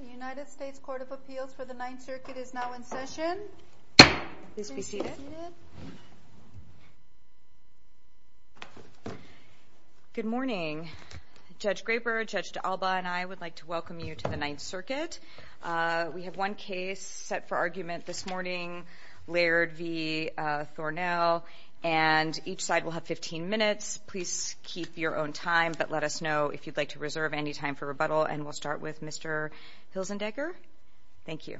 The United States Court of Appeals for the Ninth Circuit is now in session. Please be seated. Good morning. Judge Graber, Judge D'Alba, and I would like to welcome you to the Ninth Circuit. We have one case set for argument this morning, Laird v. Thornell. And each side will have 15 minutes. Please keep your own time, but let us know if you'd like to reserve any time for rebuttal. And we'll start with Mr. Hilzendecker. Thank you.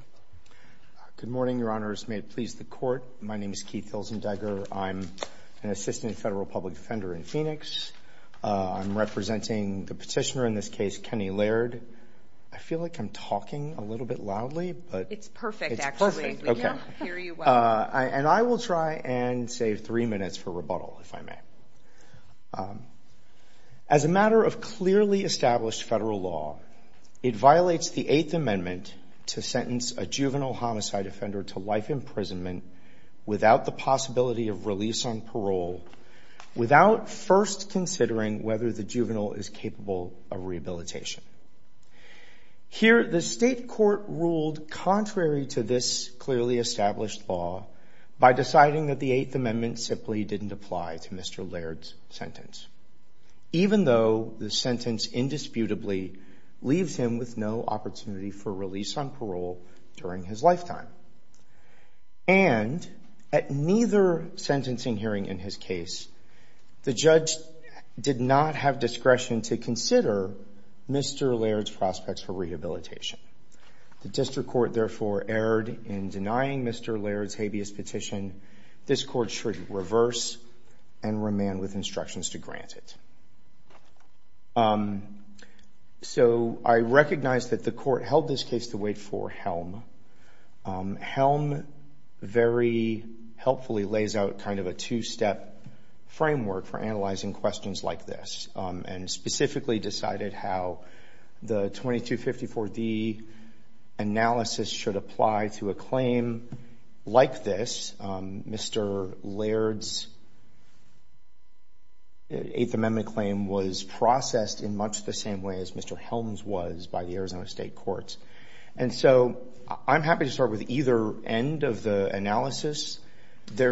Good morning, Your Honors. May it please the Court, my name is Keith Hilzendecker. I'm an assistant federal public defender in Phoenix. I'm representing the petitioner in this case, Kenny Laird. I feel like I'm talking a little bit loudly. It's perfect, actually. It's perfect. We can hear you well. And I will try and save three minutes for rebuttal, if I may. As a matter of clearly established federal law, it violates the Eighth Amendment to sentence a juvenile homicide offender to life imprisonment without the possibility of release on parole, without first considering whether the juvenile is capable of rehabilitation. Here, the state court ruled contrary to this clearly established law by deciding that the Eighth Amendment simply didn't apply to Mr. Laird's sentence, even though the sentence indisputably leaves him with no opportunity for release on parole during his lifetime. And at neither sentencing hearing in his case, the judge did not have discretion to consider Mr. Laird's prospects for rehabilitation. The district court therefore erred in denying Mr. Laird's habeas petition. This court should reverse and remand with instructions to grant it. So I recognize that the court held this case to wait for Helm. Helm very helpfully lays out kind of a two-step framework for analyzing questions like this and specifically decided how the 2254D analysis should apply to a claim like this. Mr. Laird's Eighth Amendment claim was processed in much the same way as Mr. Helm's was by the Arizona State Courts. And so I'm happy to start with either end of the analysis. I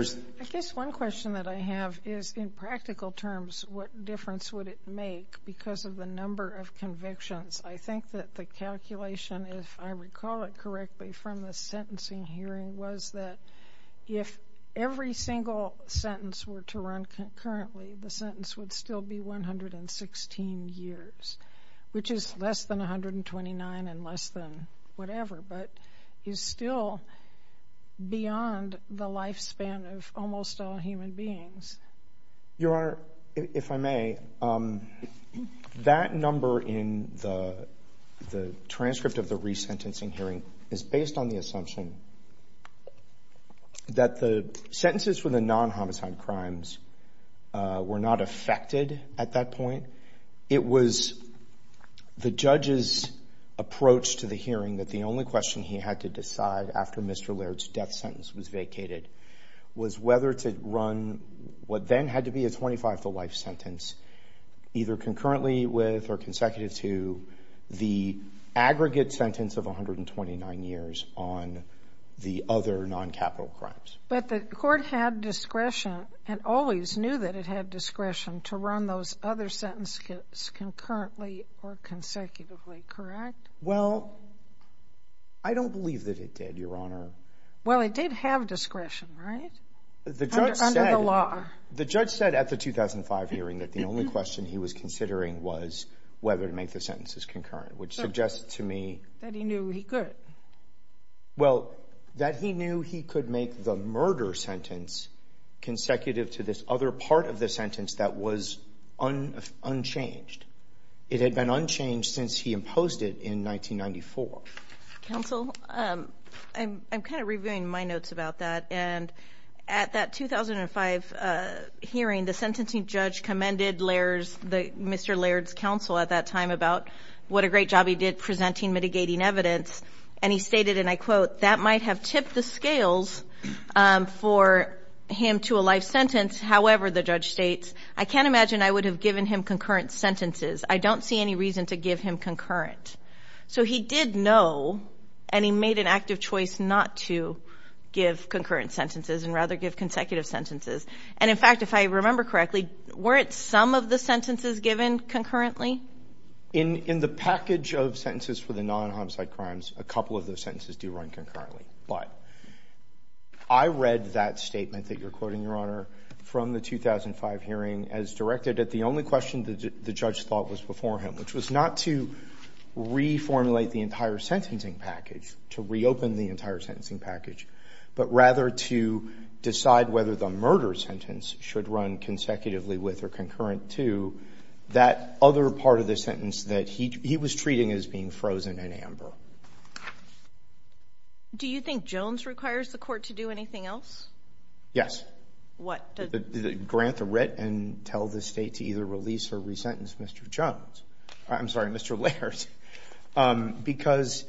guess one question that I have is, in practical terms, what difference would it make because of the number of convictions? I think that the calculation, if I recall it correctly from the sentencing hearing, was that if every single sentence were to run concurrently, the sentence would still be 116 years, which is less than 129 and less than whatever, but is still beyond the lifespan of almost all human beings. Your Honor, if I may, that number in the transcript of the resentencing hearing is based on the assumption that the sentences for the non-homicide crimes were not affected at that point. It was the judge's approach to the hearing that the only question he had to decide after Mr. Laird's death sentence was vacated was whether to run what then had to be a 25-to-life sentence, either concurrently with or consecutive to the aggregate sentence of 129 years on the other non-capital crimes. But the court had discretion and always knew that it had discretion to run those other sentences concurrently or consecutively, correct? Well, I don't believe that it did, Your Honor. Well, it did have discretion, right, under the law? The judge said at the 2005 hearing that the only question he was considering was whether to make the sentences concurrent, which suggests to me... That he knew he could. Well, that he knew he could make the murder sentence consecutive to this other part of the sentence that was unchanged. It had been unchanged since he imposed it in 1994. Counsel, I'm kind of reviewing my notes about that, and at that 2005 hearing, the sentencing judge commended Mr. Laird's counsel at that time about what a great job he did presenting mitigating evidence, and he stated, and I quote, that might have tipped the scales for him to a life sentence. However, the judge states, I can't imagine I would have given him concurrent sentences. I don't see any reason to give him concurrent. So he did know, and he made an active choice not to give concurrent sentences and rather give consecutive sentences. And, in fact, if I remember correctly, weren't some of the sentences given concurrently? In the package of sentences for the non-homicide crimes, a couple of those sentences do run concurrently. But I read that statement that you're quoting, Your Honor, from the 2005 hearing as directed at the only question the judge thought was before him, which was not to reformulate the entire sentencing package, to reopen the entire sentencing package, but rather to decide whether the murder sentence should run consecutively with or concurrent to that other part of the sentence that he was treating as being frozen in amber. Do you think Jones requires the court to do anything else? What? Grant the writ and tell the State to either release or resentence Mr. Jones. I'm sorry, Mr. Laird. Because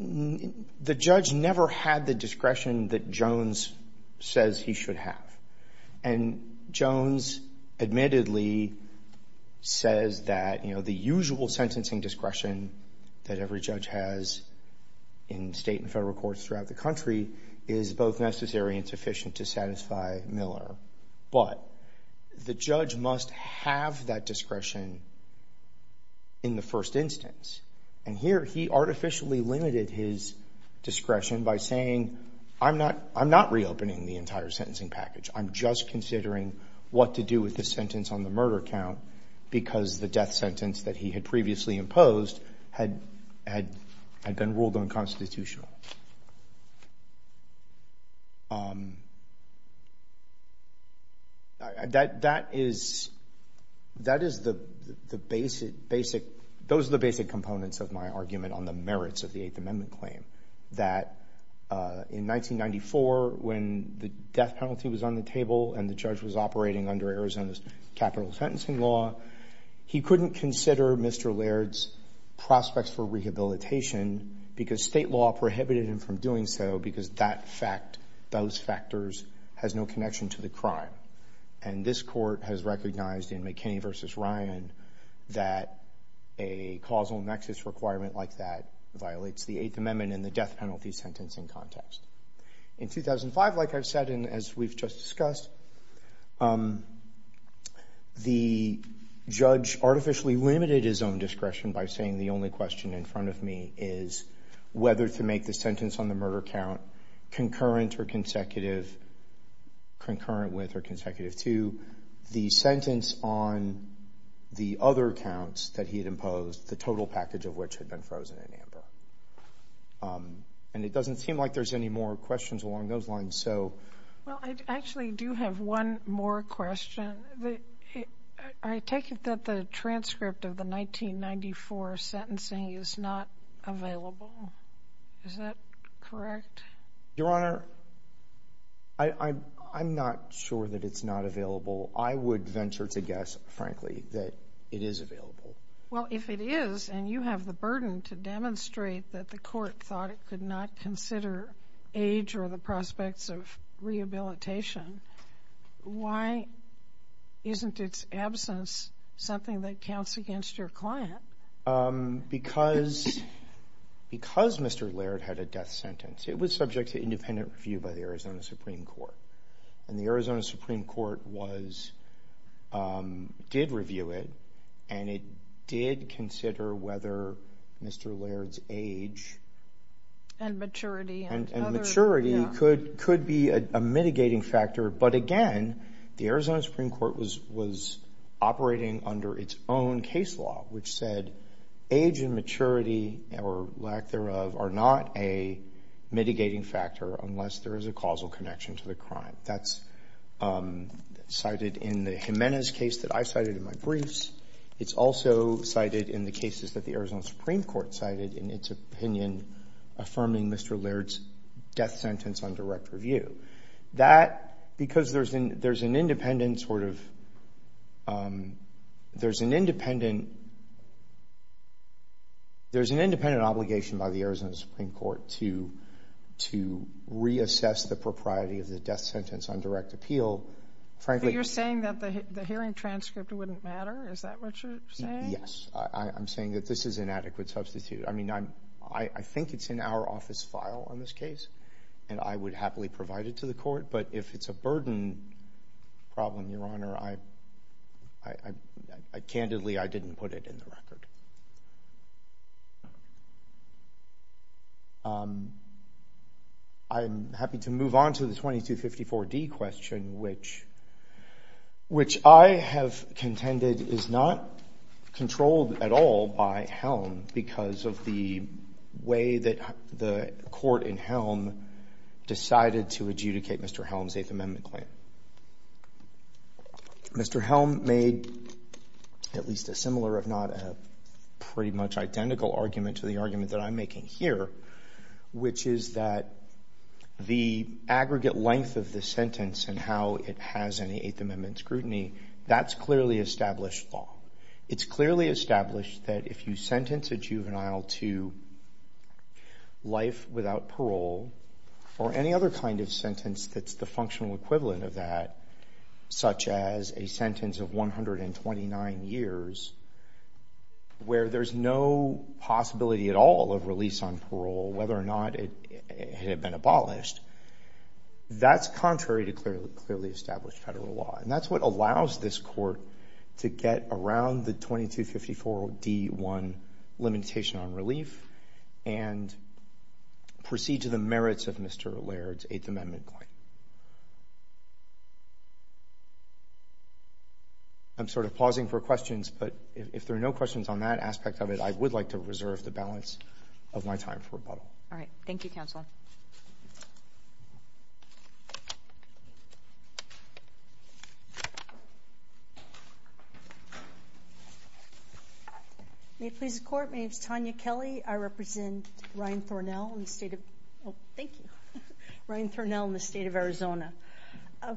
the judge never had the discretion that Jones says he should have. And Jones admittedly says that, you know, the usual sentencing discretion that every judge has in state and federal courts throughout the country is both necessary and sufficient to satisfy Miller. But the judge must have that discretion in the first instance. And here he artificially limited his discretion by saying, I'm not reopening the entire sentencing package. I'm just considering what to do with the sentence on the murder count because the death sentence that he had previously imposed had been ruled unconstitutional. That is the basic, basic, those are the basic components of my argument on the merits of the Eighth Amendment claim. That in 1994 when the death penalty was on the table and the judge was operating under Arizona's capital sentencing law, he couldn't consider Mr. Laird's prospects for rehabilitation because state law prohibited him from doing so because that fact, those factors, has no connection to the crime. And this court has recognized in McKinney v. Ryan that a causal nexus requirement like that violates the Eighth Amendment and the death penalty sentencing context. In 2005, like I've said and as we've just discussed, the judge artificially limited his own discretion by saying the only question in front of me is whether to make the sentence on the murder count concurrent or consecutive, concurrent with or consecutive to the sentence on the other counts that he had imposed, the total package of which had been frozen in amber. And it doesn't seem like there's any more questions along those lines, so. Well, I actually do have one more question. I take it that the transcript of the 1994 sentencing is not available. Is that correct? Your Honor, I'm not sure that it's not available. I would venture to guess, frankly, that it is available. Well, if it is and you have the burden to demonstrate that the court thought it could not consider age or the prospects of rehabilitation, why isn't its absence something that counts against your client? Because Mr. Laird had a death sentence. It was subject to independent review by the Arizona Supreme Court. And the Arizona Supreme Court did review it, and it did consider whether Mr. Laird's age and maturity could be a mitigating factor. But again, the Arizona Supreme Court was operating under its own case law, which said age and maturity or lack thereof are not a mitigating factor unless there is a causal connection to the crime. That's cited in the Jimenez case that I cited in my briefs. It's also cited in the cases that the Arizona Supreme Court cited in its opinion affirming Mr. Laird's death sentence on direct review. That, because there's an independent sort of — there's an independent — there's an independent obligation by the Arizona Supreme Court to reassess the propriety of the death sentence on direct appeal. Frankly — But you're saying that the hearing transcript wouldn't matter? Is that what you're saying? Yes. I'm saying that this is an adequate substitute. I mean, I think it's in our office file on this case, and I would happily provide it to the court. But if it's a burden problem, Your Honor, I — candidly, I didn't put it in the record. I'm happy to move on to the 2254D question, which I have contended is not controlled at all by Helm because of the way that the court in Helm decided to adjudicate Mr. Helm's Eighth Amendment claim. Mr. Helm made at least a similar, if not a pretty much identical, argument to the argument that I'm making here, which is that the aggregate length of the sentence and how it has any Eighth Amendment scrutiny, that's clearly established law. It's clearly established that if you sentence a juvenile to life without parole or any other kind of sentence that's the functional equivalent of that, such as a sentence of 129 years where there's no possibility at all of release on parole, whether or not it had been abolished, that's contrary to clearly established federal law. And that's what allows this court to get around the 2254D1 limitation on relief and proceed to the merits of Mr. Laird's Eighth Amendment claim. I'm sort of pausing for questions, but if there are no questions on that aspect of it, I would like to reserve the balance of my time for rebuttal. All right. Thank you, Counsel. May it please the Court, my name is Tanya Kelly. I represent Ryan Thornell in the state of Arizona.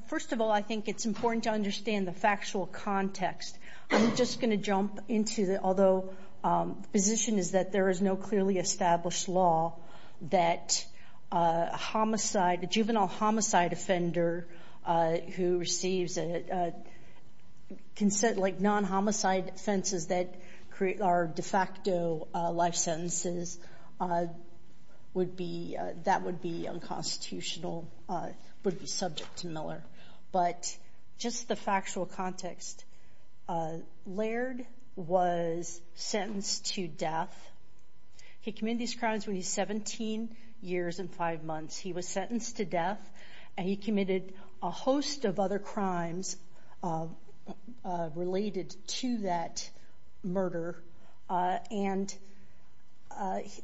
First of all, I think it's important to understand the factual context. I'm just going to jump into, although the position is that there is no clearly established law that a juvenile homicide offender who receives non-homicide offenses that are de facto life sentences, that would be unconstitutional, would be subject to Miller. But just the factual context, Laird was sentenced to death. He committed these crimes when he was 17 years and five months. He was sentenced to death, and he committed a host of other crimes related to that murder. And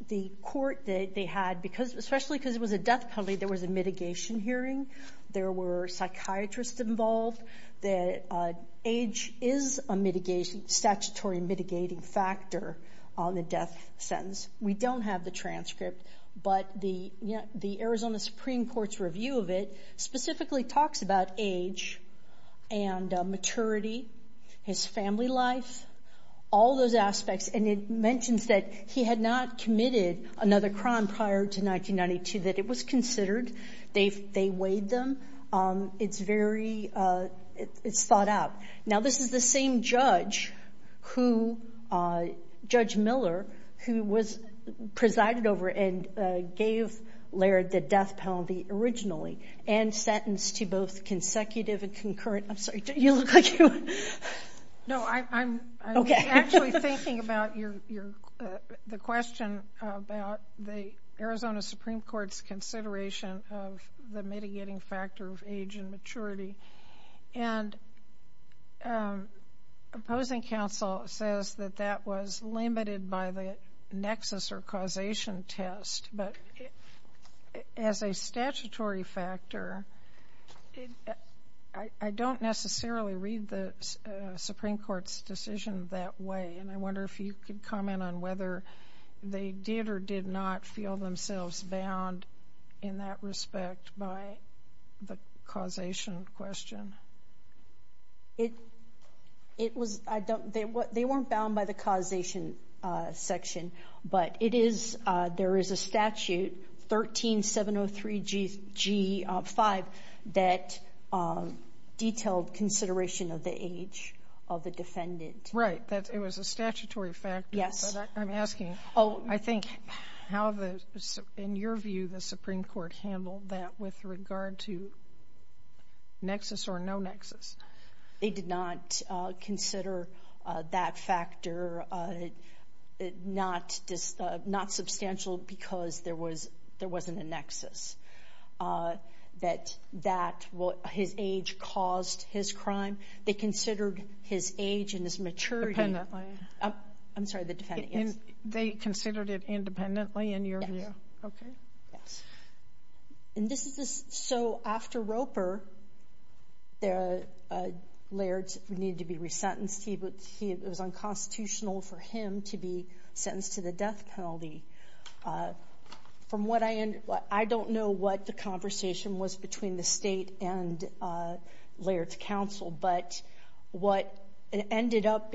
the court that they had, especially because it was a death penalty, there was a mitigation hearing. There were psychiatrists involved. Age is a statutory mitigating factor on the death sentence. We don't have the transcript, but the Arizona Supreme Court's review of it specifically talks about age and maturity, his family life, all those aspects. And it mentions that he had not committed another crime prior to 1992, that it was considered. They weighed them. It's thought out. Now, this is the same judge, Judge Miller, who was presided over and gave Laird the death penalty originally and sentenced to both consecutive and concurrent. I'm sorry, you look like you want to. No, I'm actually thinking about the question about the Arizona Supreme Court's consideration of the mitigating factor of age and maturity. And opposing counsel says that that was limited by the nexus or causation test. But as a statutory factor, I don't necessarily read the Supreme Court's decision that way. And I wonder if you could comment on whether they did or did not feel themselves bound in that respect by the causation question. They weren't bound by the causation section. But there is a statute, 13703G5, that detailed consideration of the age of the defendant. Right, it was a statutory factor. Yes. But I'm asking, I think, in your view, the Supreme Court handled that with regard to nexus or no nexus? They did not consider that factor not substantial because there wasn't a nexus. That his age caused his crime. They considered his age and his maturity. I'm sorry, the defendant, yes. They considered it independently, in your view? Okay. And this is so after Roper, Laird needed to be resentenced. It was unconstitutional for him to be sentenced to the death penalty. I don't know what the conversation was between the state and Laird's counsel. But what ended up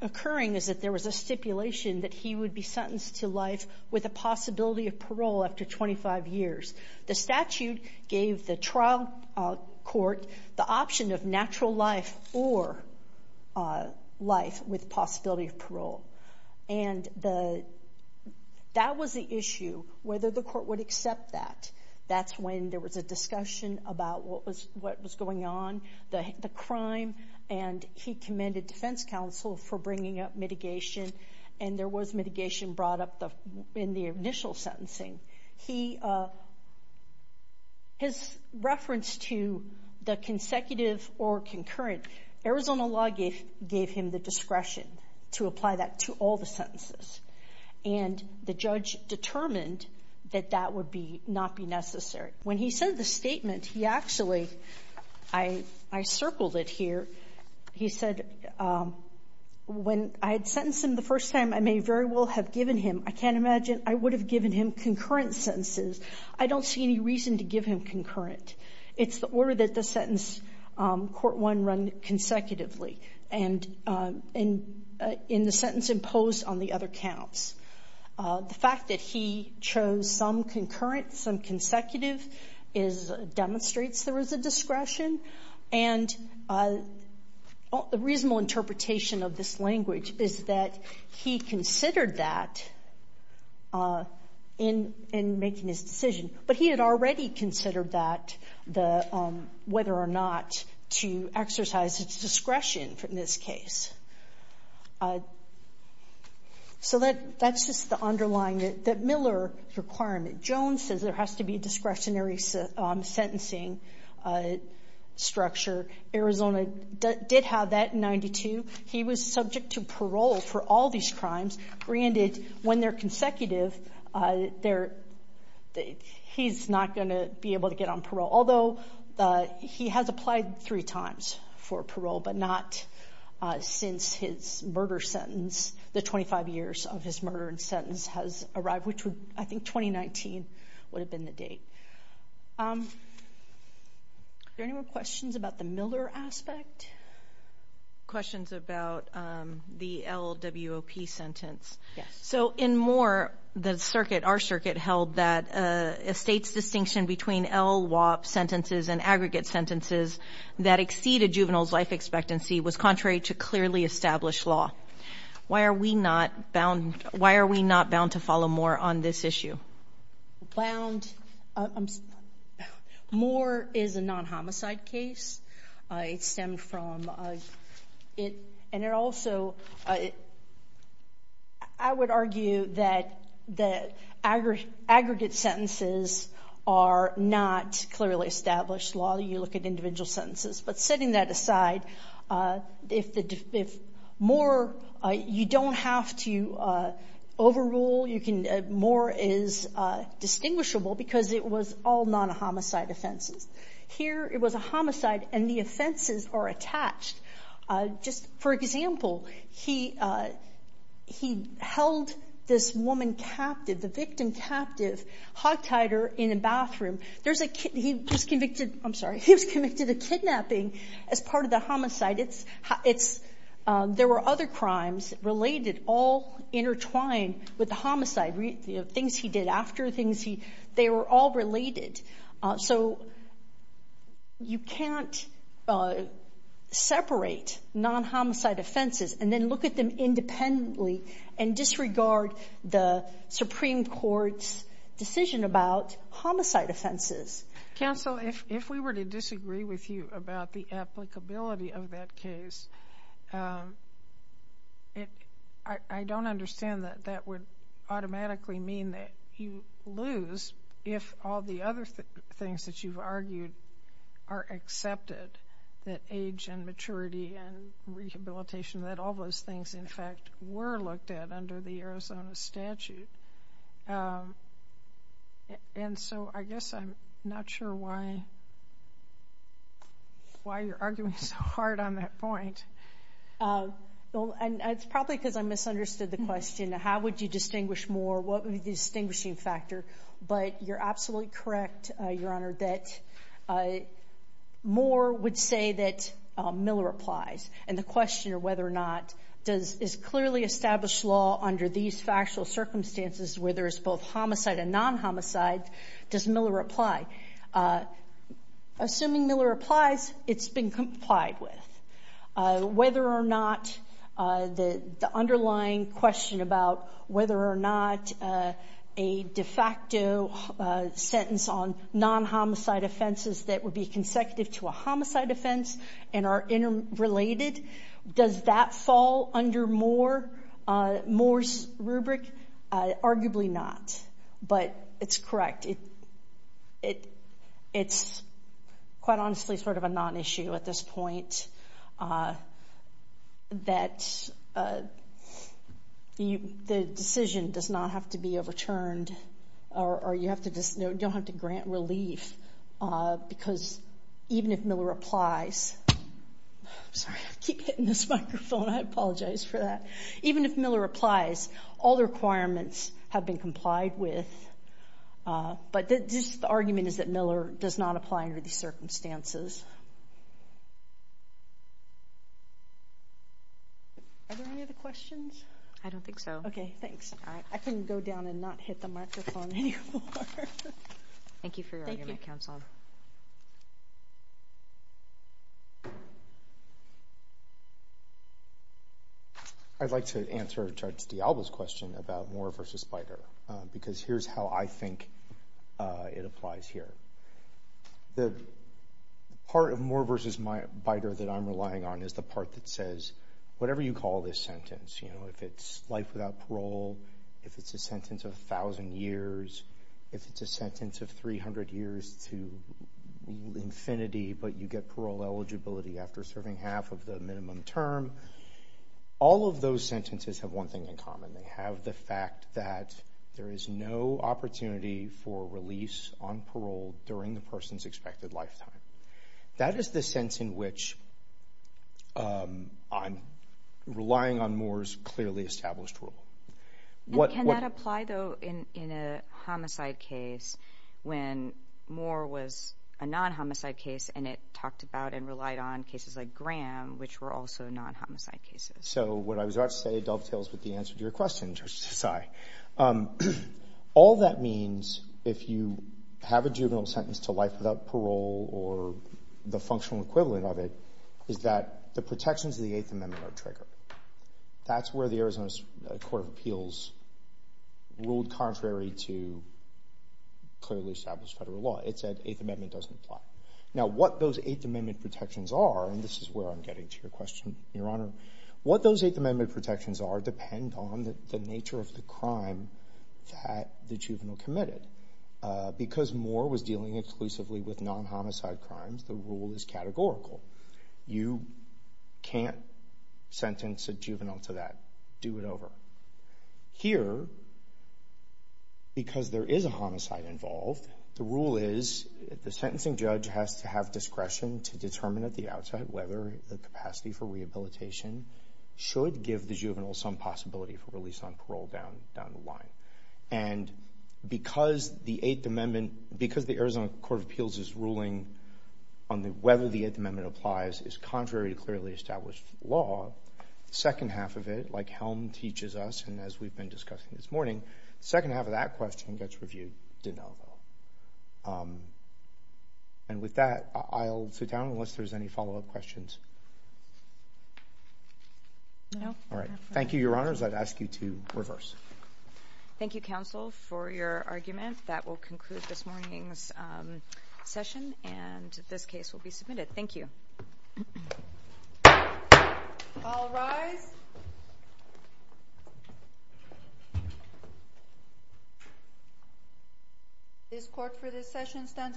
occurring is that there was a stipulation that he would be sentenced to life with a possibility of parole after 25 years. The statute gave the trial court the option of natural life or life with possibility of parole. And that was the issue, whether the court would accept that. That's when there was a discussion about what was going on, the crime. And he commended defense counsel for bringing up mitigation. And there was mitigation brought up in the initial sentencing. His reference to the consecutive or concurrent, Arizona law gave him the discretion to apply that to all the sentences. And the judge determined that that would not be necessary. When he said the statement, he actually, I circled it here. He said, when I had sentenced him the first time, I may very well have given him, I can't imagine I would have given him concurrent sentences. I don't see any reason to give him concurrent. It's the order that the sentence, court one, run consecutively. And in the sentence imposed on the other counts. The fact that he chose some concurrent, some consecutive, demonstrates there was a discretion. And a reasonable interpretation of this language is that he considered that in making his decision. But he had already considered that, whether or not to exercise his discretion in this case. So that's just the underlying, that Miller requirement. Jones says there has to be a discretionary sentencing structure. Arizona did have that in 92. He was subject to parole for all these crimes. Granted, when they're consecutive, he's not going to be able to get on parole. Although, he has applied three times for parole, but not since his murder sentence, since the 25 years of his murder and sentence has arrived, which I think 2019 would have been the date. Are there any more questions about the Miller aspect? Questions about the LWOP sentence. Yes. So in Moore, the circuit, our circuit, held that a state's distinction between LWOP sentences and aggregate sentences that exceed a juvenile's life expectancy was contrary to clearly established law. Why are we not bound to follow Moore on this issue? Bound. Moore is a non-homicide case. It stemmed from it, and it also, I would argue that aggregate sentences are not clearly established law. You look at individual sentences. But setting that aside, if Moore, you don't have to overrule. Moore is distinguishable because it was all non-homicide offenses. Here, it was a homicide, and the offenses are attached. Just for example, he held this woman captive, the victim captive, hogtied her in a bathroom. He was convicted of kidnapping as part of the homicide. There were other crimes related, all intertwined with the homicide. Things he did after, they were all related. So you can't separate non-homicide offenses and then look at them independently and disregard the Supreme Court's decision about homicide offenses. Counsel, if we were to disagree with you about the applicability of that case, I don't understand that that would automatically mean that you lose if all the other things that you've argued are accepted, that age and maturity and rehabilitation, that all those things, in fact, were looked at under the Arizona statute. And so I guess I'm not sure why you're arguing so hard on that point. It's probably because I misunderstood the question. How would you distinguish Moore? What would be the distinguishing factor? But you're absolutely correct, Your Honor, that Moore would say that Miller applies. And the question of whether or not is clearly established law under these factual circumstances where there is both homicide and non-homicide, does Miller apply? Assuming Miller applies, it's been complied with. Whether or not the underlying question about whether or not a de facto sentence on non-homicide offenses that would be consecutive to a homicide offense and are interrelated, does that fall under Moore's rubric? Arguably not. But it's correct. It's quite honestly sort of a non-issue at this point that the decision does not have to be overturned or you don't have to grant relief because even if Miller applies, I'm sorry, I keep hitting this microphone. I apologize for that. Even if Miller applies, all the requirements have been complied with. But the argument is that Miller does not apply under these circumstances. Are there any other questions? I don't think so. Okay, thanks. I can go down and not hit the microphone anymore. Thank you for your argument, Counsel. Thank you. I'd like to answer Judge D'Alba's question about Moore v. Beiter because here's how I think it applies here. The part of Moore v. Beiter that I'm relying on is the part that says whatever you call this sentence, you know, if it's life without parole, if it's a sentence of 1,000 years, if it's a sentence of 300 years to infinity, but you get parole eligibility after serving half of the minimum term, all of those sentences have one thing in common. They have the fact that there is no opportunity for release on parole during the person's expected lifetime. That is the sense in which I'm relying on Moore's clearly established rule. Can that apply, though, in a homicide case when Moore was a non-homicide case and it talked about and relied on cases like Graham, which were also non-homicide cases? So what I was about to say dovetails with the answer to your question, Judge Desai. All that means if you have a juvenile sentence to life without parole or the functional equivalent of it is that the protections of the Eighth Amendment are triggered. That's where the Arizona Court of Appeals ruled contrary to clearly established federal law. It said the Eighth Amendment doesn't apply. Now what those Eighth Amendment protections are, and this is where I'm getting to your question, Your Honor, what those Eighth Amendment protections are depend on the nature of the crime that the juvenile committed. Because Moore was dealing exclusively with non-homicide crimes, the rule is categorical. You can't sentence a juvenile to that. Do it over. Here, because there is a homicide involved, the rule is the sentencing judge has to have discretion to determine at the outside whether the capacity for rehabilitation should give the juvenile some possibility for release on parole down the line. And because the Arizona Court of Appeals' ruling on whether the Eighth Amendment applies is contrary to clearly established law, the second half of it, like Helm teaches us and as we've been discussing this morning, the second half of that question gets reviewed de novo. And with that, I'll sit down unless there's any follow-up questions. No. All right. Thank you, Your Honors. I'd ask you to reverse. Thank you, counsel, for your argument. That will conclude this morning's session, and this case will be submitted. Thank you. All rise. This court for this session stands adjourned.